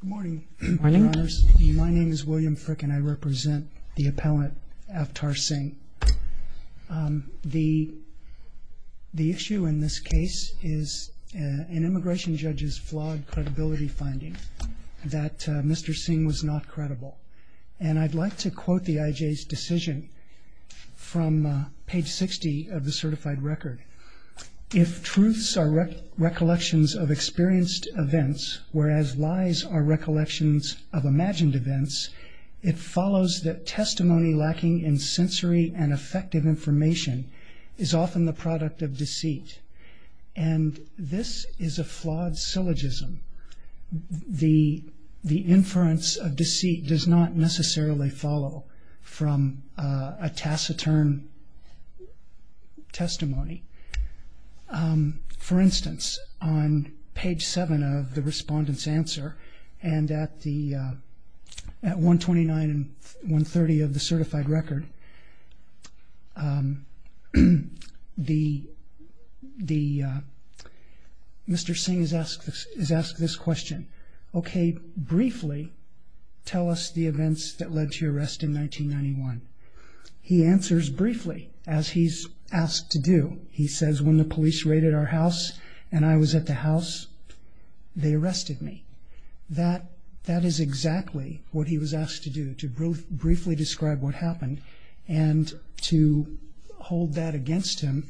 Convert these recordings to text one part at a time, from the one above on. Good morning, Your Honors. My name is William Frick and I represent the appellant Aftar Singh. The issue in this case is an immigration judge's flawed credibility finding that Mr. Singh was not credible. And I'd like to quote the IJ's decision from page 60 of the certified record. If truths are recollections of experienced events, whereas lies are recollections of imagined events, it follows that testimony lacking in sensory and effective information is often the product of deceit. And this is a flawed syllogism. The inference of deceit does not necessarily follow from a taciturn testimony. For instance, on page seven of the respondent's answer and at the at 129 and 130 of the certified record, Mr. Singh is asked this question. Okay, briefly tell us the events that led to your arrest in 1991. He answers briefly, as he's asked to do. He says, when the police raided our house, and I was at the house, they arrested me. That is exactly what he was asked to do to briefly describe what happened. And to hold that against him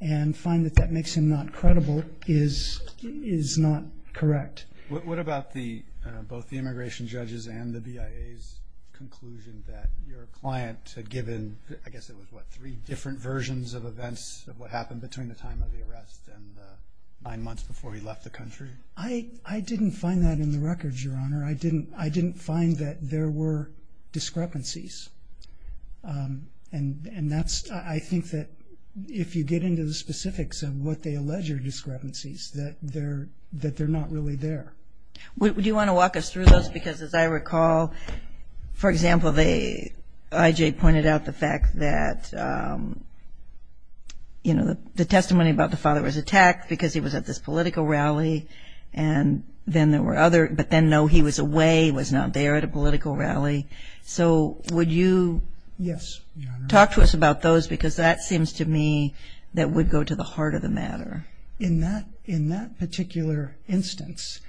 and find that that makes him not credible is not correct. What about the both the immigration judges and the IJ's conclusion that your client had given, I guess it was what, three different versions of events of what happened between the time of the arrest and nine months before he left the country? I didn't find that in the records, Your Honor. I didn't find that there were discrepancies. And that's, I think, that if you get into the specifics of what they allege are discrepancies, that they're not really there. Do you want to walk us through those? Because as I recall, for example, the IJ pointed out the fact that, you know, the testimony about the father was attacked because he was at this political rally. And then there were other, but then no, he was away, was not there at a political rally. So would you talk to us about those? Because that seems to me that would go to the heart of the matter. In that, in that particular instance,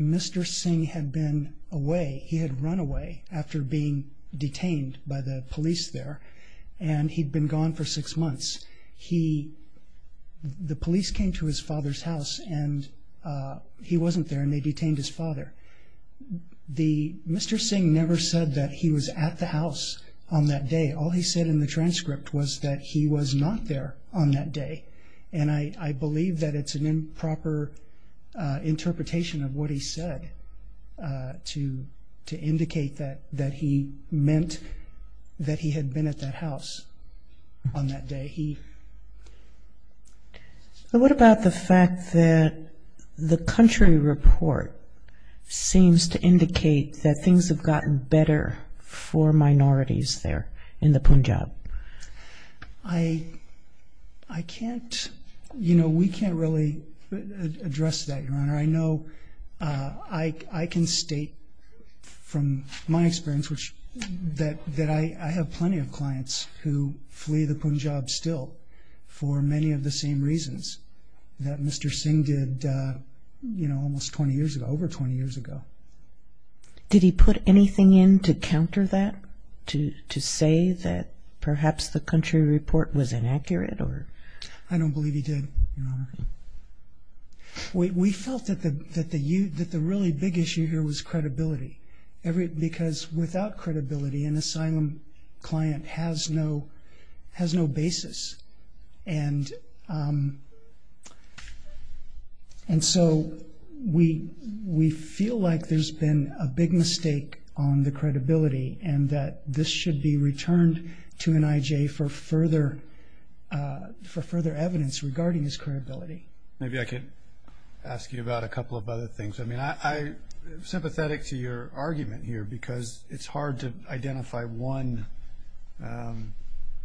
Mr. Singh had been away. He had run away after being detained by the police there. And he'd been gone for six months. He, the police came to his father's house and he wasn't there and they detained his father. The, Mr. Singh never said that he was at the house on that day. All he said in the transcript was that he was not there on that day. And I, I believe that it's an improper interpretation of what he said to, to indicate that, that he meant that he had been at that house on that day. He... But what about the fact that the country report seems to indicate that things have gotten better for minorities there in the Punjab? I, I can't, you know, we can't really address that, Your Honor. I know I, I can state from my experience, which that, that I, I have plenty of clients who flee the Punjab still for many of the same reasons that Mr. Singh did, you know, almost 20 years ago, over 20 years ago. Did he put anything in to counter that, to, to say that perhaps the country report was inaccurate or? I don't believe he did, Your Honor. We, we felt that the, that the, that the really big issue here was credibility. Every, because without credibility, an asylum client has no, has no basis. And, and so we, we feel like there's been a big mistake on the credibility and that this should be returned to an IJ for further, for further evidence regarding his credibility. Maybe I could ask you about a couple of other things. I mean, I, I'm sympathetic to your argument here because it's hard to identify one,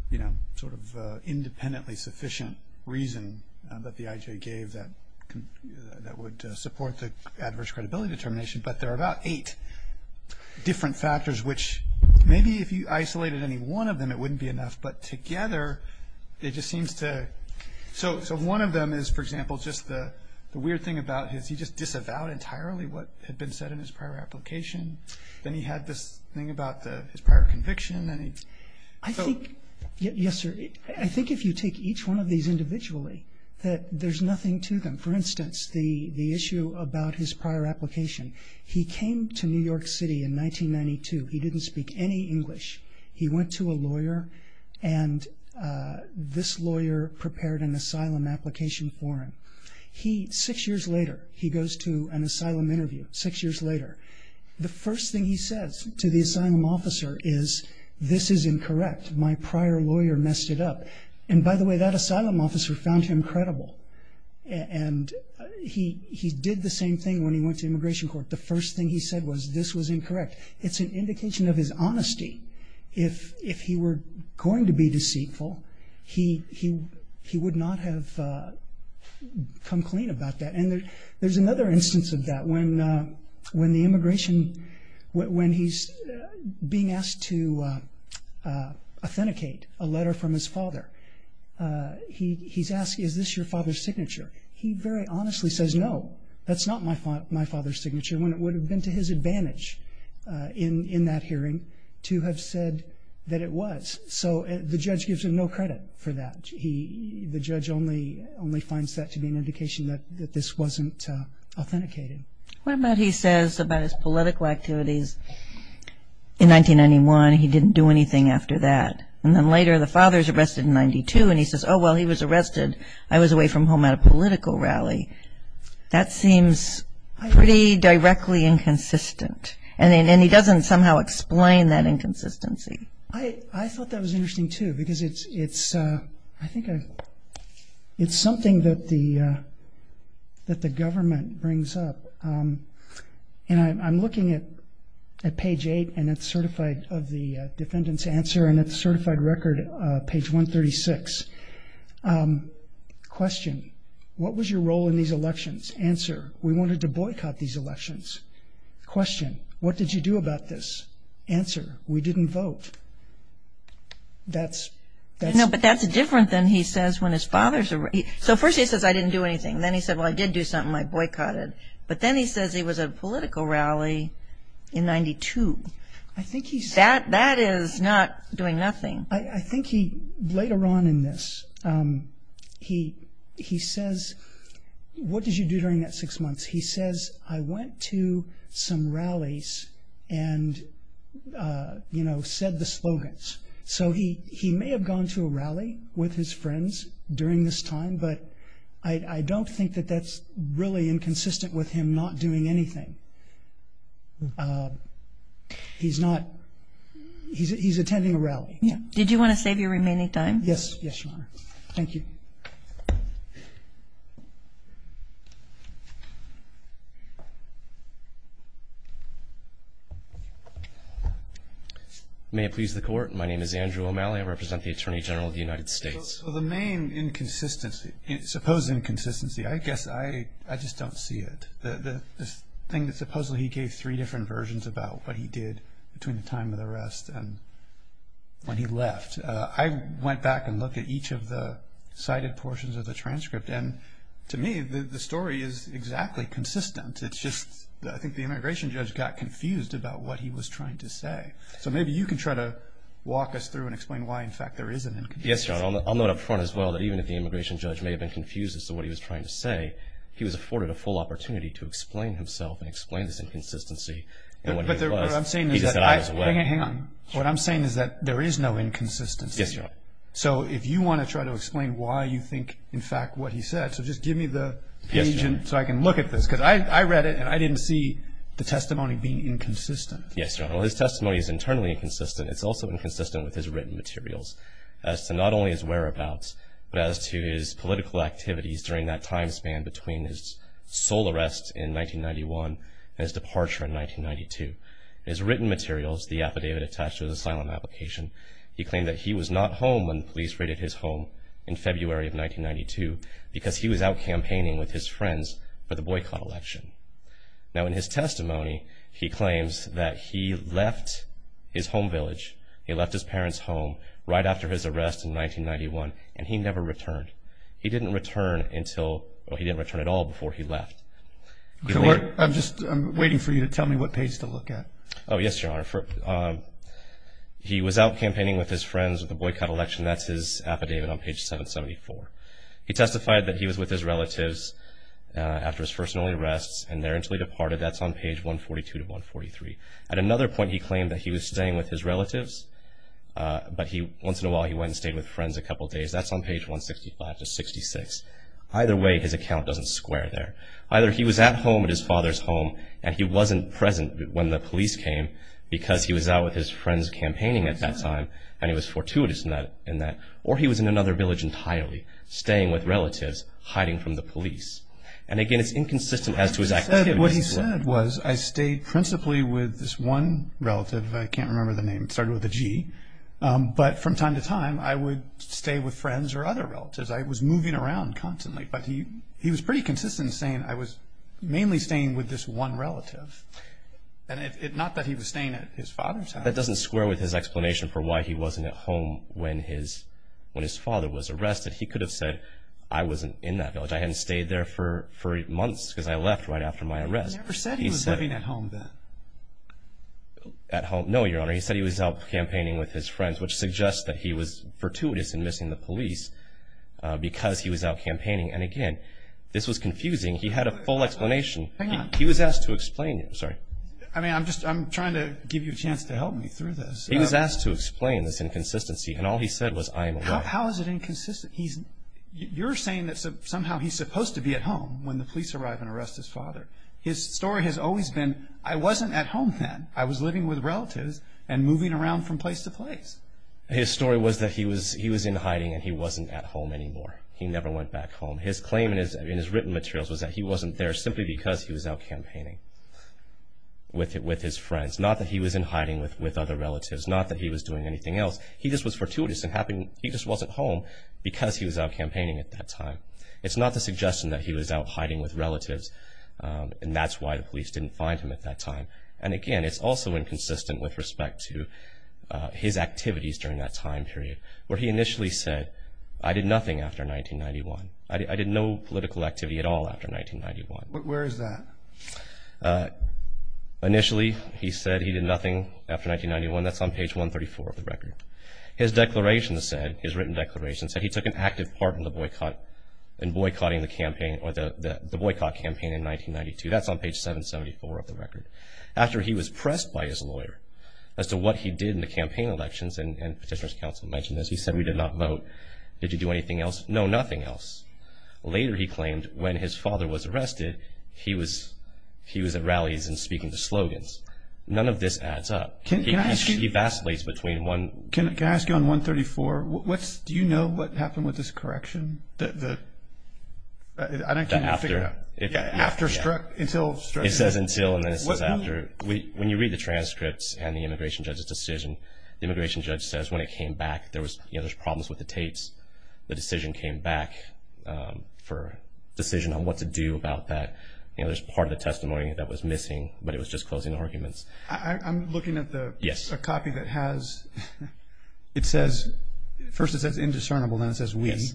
you know, sort of independently sufficient reason that the IJ gave that, that would support the adverse credibility determination, but there are about eight different factors, which maybe if you isolated any one of them, it wouldn't be enough, but together, it just seems to, so, so one of them is, for example, just the, the weird thing about his, he just disavowed entirely what had been said in his prior application. Then he had this thing about the, his prior conviction and he, so. I think, yes, sir. I think if you take each one of these the issue about his prior application, he came to New York City in 1992. He didn't speak any English. He went to a lawyer and this lawyer prepared an asylum application for him. He, six years later, he goes to an asylum interview, six years later. The first thing he says to the asylum officer is, this is incorrect. My prior lawyer messed it up. And by the way, that asylum officer found him credible. And he, he did the same thing when he went to immigration court. The first thing he said was, this was incorrect. It's an indication of his honesty. If, if he were going to be deceitful, he, he, he would not have come clean about that. And there, there's another instance of that. When, when the immigration, when he's being asked to authenticate a letter from his father, he, he's asked, is this your father's signature? He very honestly says, no, that's not my, my father's signature, when it would have been to his advantage in, in that hearing to have said that it was. So the judge gives him no credit for that. He, the judge only, only finds that to be an indication that, that this wasn't authenticated. What about he says about his political activities? In 1991, he didn't do anything after that. And then later, the father's arrested in 92, and he says, oh, well, he was arrested. I was away from home at a political rally. That seems pretty directly inconsistent. And then, and he doesn't somehow explain that inconsistency. I thought that was interesting, too, because it's, it's, I think it's something that the, that the government brings up. And I'm looking at page eight, and it's certified of the defendant's answer, and it's certified record, page 136. Question, what was your role in these elections? Answer, we wanted to boycott these elections. Question, what did you do about this? Answer, we didn't vote. That's, that's... No, but that's different than he says when his father's arrested. So first he says, I didn't do anything. Then he said, well, I did do something, I boycotted. But then he says he was at a political rally in 92. I think he's... That, that is not doing nothing. I think he, later on in this, he, he says, what did you do during that six months? He says, I went to some rallies and, you know, said the slogans. So he, he may have gone to a rally with his friends during this time, but I don't think that that's really inconsistent with him not doing anything. He's not, he's, he's attending a rally. Did you want to save your remaining time? Yes. Yes, Your Honor. Thank you. May it please the court. My name is Andrew O'Malley. I represent the Attorney General of the United States. So the main inconsistency, supposed inconsistency, I guess I, I just don't see it. The thing that supposedly he gave three different versions about what he did between the time of the arrest and when he left. I went back and looked at each of the cited portions of the transcript. And to me, the, the story is exactly consistent. It's just, I think the immigration judge got confused about what he was trying to say. So maybe you can try to walk us through and explain why, in fact, there is an inconsistency. Yes, Your Honor. I'll note up front as well that even if the immigration judge may have been confused as to what he was trying to say, he was But what I'm saying is that I, hang on, what I'm saying is that there is no inconsistency. Yes, Your Honor. So if you want to try to explain why you think, in fact, what he said, so just give me the page so I can look at this because I read it and I didn't see the testimony being inconsistent. Yes, Your Honor. His testimony is internally inconsistent. It's also inconsistent with his written materials as to not only his whereabouts, but as to his written materials, the affidavit attached to his asylum application. He claimed that he was not home when the police raided his home in February of 1992 because he was out campaigning with his friends for the boycott election. Now, in his testimony, he claims that he left his home village. He left his parents' home right after his arrest in 1991, and he never returned. He didn't return until, well, he didn't return at all before he left. I'm just waiting for you to tell me what page to look at. Oh, yes, Your Honor. He was out campaigning with his friends at the boycott election. That's his affidavit on page 774. He testified that he was with his relatives after his first and only arrests, and there until he departed. That's on page 142 to 143. At another point, he claimed that he was staying with his relatives, but he, once in a while, he went and stayed with friends a couple of days. That's on page 165 to 66. Either way, his account doesn't square there. Either he was at home at his father's home, and he wasn't present when the police came because he was out with his friends campaigning at that time, and he was fortuitous in that, or he was in another village entirely, staying with relatives, hiding from the police. And, again, it's inconsistent as to exactly what he said. What he said was, I stayed principally with this one relative. I can't remember the name. It started with a G. But from time to time, I would stay with friends or other relatives. I was moving around constantly. But he was pretty consistent in saying, I was mainly staying with this one relative. Not that he was staying at his father's house. That doesn't square with his explanation for why he wasn't at home when his father was arrested. He could have said, I wasn't in that village. I hadn't stayed there for months because I left right after my arrest. He never said he was living at home then. At home? No, Your Honor. He said he was out campaigning with his friends, which suggests that he was fortuitous in missing the police because he was out campaigning. And, again, this was confusing. He had a full explanation. He was asked to explain it. Sorry. I mean, I'm just I'm trying to give you a chance to help me through this. He was asked to explain this inconsistency. And all he said was, I am. How is it inconsistent? He's you're saying that somehow he's supposed to be at home when the police arrive and arrest his father. His story has always been, I wasn't at home then. I was living with relatives and moving around from place to place. His story was that he was he was in hiding and he wasn't at home anymore. He never went back home. His claim in his written materials was that he wasn't there simply because he was out campaigning with it with his friends. Not that he was in hiding with with other relatives. Not that he was doing anything else. He just was fortuitous and happened. He just wasn't home because he was out campaigning at that time. It's not the suggestion that he was out hiding with relatives. And that's why the police didn't find him at that time. And again, it's also inconsistent with respect to his activities during that time period where he initially said, I did nothing after 1991. I did no political activity at all after 1991. Where is that initially? He said he did nothing after 1991. That's on page 134 of the record. His declaration said, his written declaration said he took an active part in the boycott and boycotting the campaign or the boycott campaign in 1992. That's on page 774 of the record. After he was pressed by his lawyer as to what he did in the campaign elections and petitioner's counsel mentioned this, he said we did not vote. Did you do anything else? No, nothing else. Later, he claimed when his father was arrested, he was he was at rallies and speaking to slogans. None of this adds up. Can I ask you? He vacillates between one. Can I ask you on 134, what's, do you know what happened with this correction? The, I can't figure it out. After struck, until struck. It says until and then it says after. When you read the transcripts and the immigration judge's decision, the immigration judge says when it came back, there was, you know, there's problems with the tapes. The decision came back for a decision on what to do about that. You know, there's part of the testimony that was missing, but it was just closing arguments. I'm looking at the copy that has, it says, first it says indiscernible, then it says we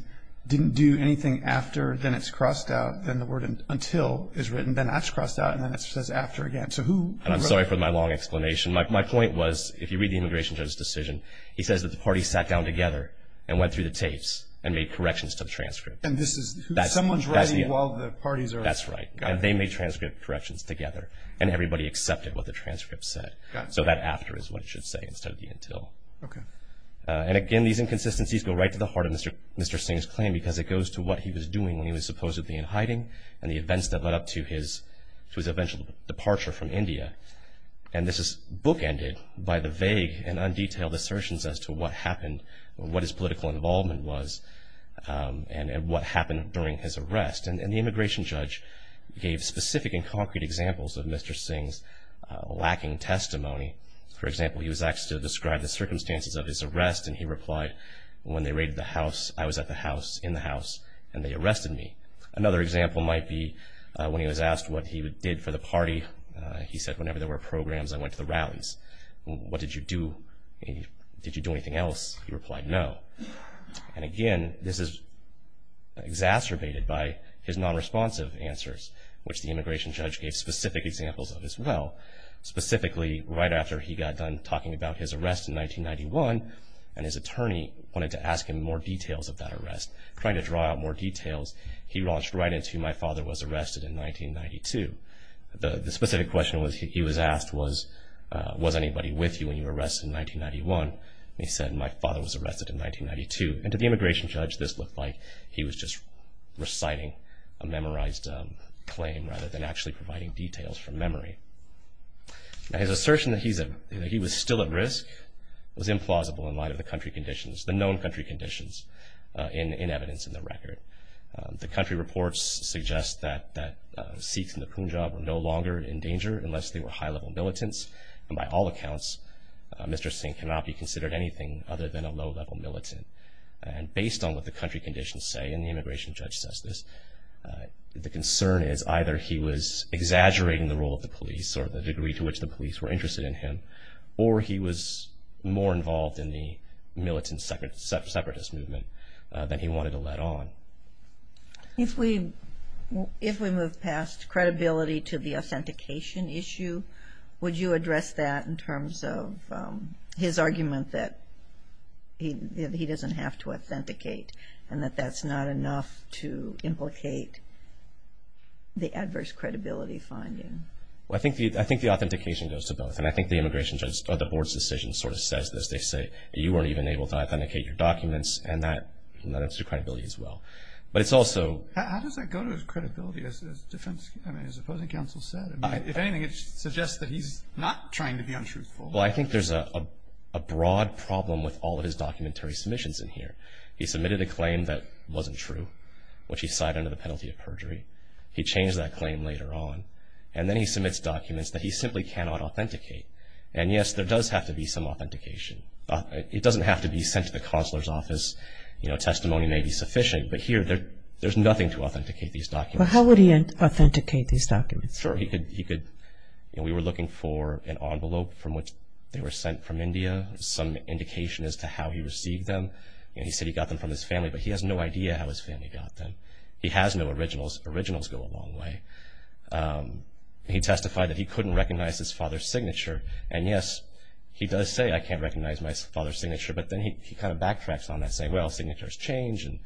didn't do anything after. Then it's crossed out. Then the word until is written. Then it's crossed out and then it says after again. So who? And I'm sorry for my long explanation. My point was, if you read the immigration judge's decision, he says that the party sat down together and went through the tapes and made corrections to the transcript. And this is someone's writing while the parties are. That's right. They made transcript corrections together and everybody accepted what the transcript said. So that after is what it should say instead of the until. Okay. And again, these inconsistencies go right to the heart of Mr. Singh's claim because it goes to what he was doing when he was supposedly in hiding and the events that led up to his eventual departure from India. And this is bookended by the vague and undetailed assertions as to what happened, what his political involvement was and what happened during his arrest. And the immigration judge gave specific and concrete examples of Mr. Singh's lacking testimony. For example, he was asked to describe the circumstances of his arrest and he replied, when they raided the house, I was at the house, in the house, and they arrested me. Another example might be when he was asked what he did for the party, he said whenever there were programs, I went to the rallies. What did you do? Did you do anything else? He replied no. And again, this is exacerbated by his non-responsive answers, which the immigration judge gave specific examples of as well. Specifically, right after he got done talking about his arrest in 1991 and his attorney wanted to ask him more details of that arrest, trying to draw out more details, he launched right into my father was arrested in 1992. The specific question he was asked was, was anybody with you when you were arrested in 1991? And he said, my father was arrested in 1992. And to the immigration judge, this looked like he was just reciting a memorized claim rather than actually providing details from memory. Now, his assertion that he was still at risk was implausible in light of the country conditions, the known country conditions in evidence in the record. The country reports suggest that Sikhs in the Punjab were no longer in danger unless they were high-level militants. And by all accounts, Mr. Singh cannot be considered anything other than a low-level militant. And based on what the country conditions say, and the immigration judge says this, the concern is either he was exaggerating the role of the police or the degree to which the police were interested in him, or he was more involved in the militant separatist movement than he wanted to let on. If we move past credibility to the authentication issue, would you address that in terms of his argument that he doesn't have to authenticate, and that that's not enough to implicate the adverse credibility finding? Well, I think the authentication goes to both, and I think the immigration judge or the board's decision sort of says this. They say, you weren't even able to authenticate your documents, and that's your credibility as well. But it's also... How does that go to his credibility, as opposing counsel said? If anything, it suggests that he's not trying to be untruthful. Well, I think there's a broad problem with all of his documentary submissions in here. He submitted a claim that wasn't true, which he cited under the penalty of perjury. He changed that claim later on. And then he submits documents that he simply cannot authenticate. And, yes, there does have to be some authentication. It doesn't have to be sent to the consular's office. Testimony may be sufficient, but here there's nothing to authenticate these documents. But how would he authenticate these documents? Sure. We were looking for an envelope from which they were sent from India, some indication as to how he received them. He said he got them from his family, but he has no idea how his family got them. He has no originals. Originals go a long way. He testified that he couldn't recognize his father's signature. And, yes, he does say, I can't recognize my father's signature, but then he kind of backtracks on that, saying, well, signatures change, and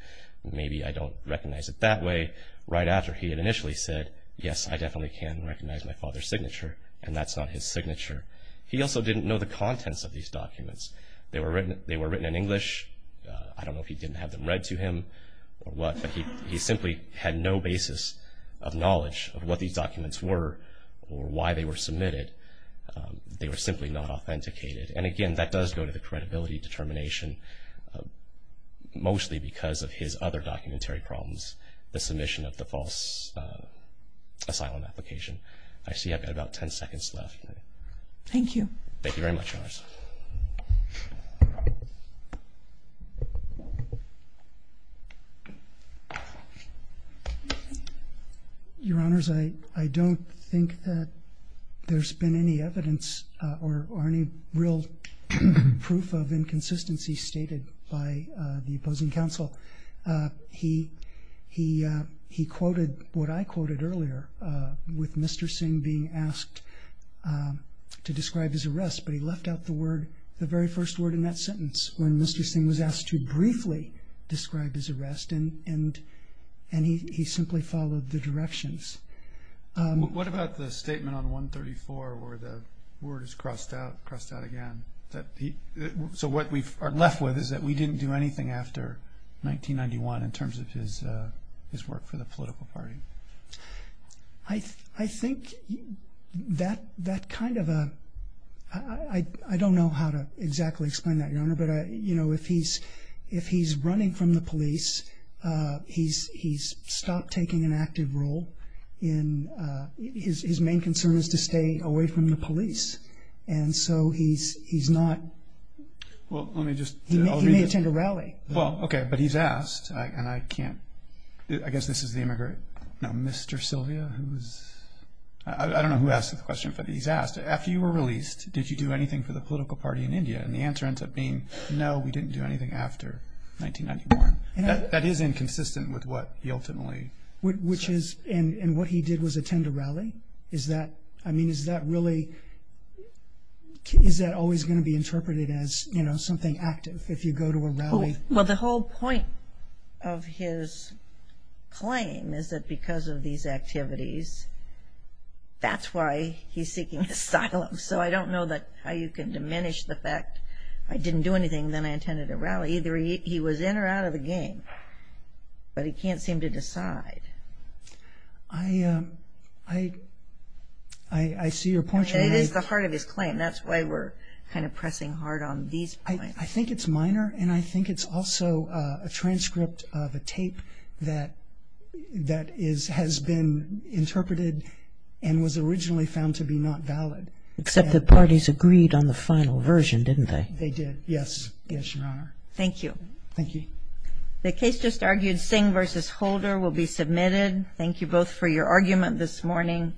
maybe I don't recognize it that way, right after he had initially said, yes, I definitely can recognize my father's signature, and that's not his signature. He also didn't know the contents of these documents. They were written in English. I don't know if he didn't have them read to him or what, but he simply had no basis of knowledge of what these documents were or why they were submitted. They were simply not authenticated. And, again, that does go to the credibility determination, mostly because of his other documentary problems, the submission of the false asylum application. I see I've got about ten seconds left. Thank you. Thank you very much, Your Honors. Your Honors, I don't think that there's been any evidence or any real proof of inconsistency stated by the opposing counsel. He quoted what I quoted earlier with Mr. Singh being asked to describe his arrest, but he left out the very first word in that sentence when Mr. Singh was asked to briefly describe his arrest, and he simply followed the directions. What about the statement on 134 where the word is crossed out again? So what we are left with is that we didn't do anything after 1991 in terms of his work for the political party. I think that kind of a—I don't know how to exactly explain that, Your Honor, but if he's running from the police, he's stopped taking an active role in— his main concern is to stay away from the police, and so he's not—he may attend a rally. Well, okay, but he's asked, and I can't—I guess this is the immigrant, no, Mr. Sylvia, who's—I don't know who asked the question, but he's asked, after you were released, did you do anything for the political party in India? And the answer ends up being, no, we didn't do anything after 1991. That is inconsistent with what he ultimately said. Which is—and what he did was attend a rally? Is that—I mean, is that really—is that always going to be interpreted as, you know, something active if you go to a rally? Well, the whole point of his claim is that because of these activities, that's why he's seeking asylum. So I don't know how you can diminish the fact I didn't do anything, then I attended a rally. Either he was in or out of the game, but he can't seem to decide. I—I see your point, Your Honor. And it is the heart of his claim. That's why we're kind of pressing hard on these points. I think it's minor, and I think it's also a transcript of a tape that is— has been interpreted and was originally found to be not valid. Except the parties agreed on the final version, didn't they? They did, yes. Yes, Your Honor. Thank you. Thank you. The case just argued, Singh v. Holder, will be submitted. Thank you both for your argument this morning.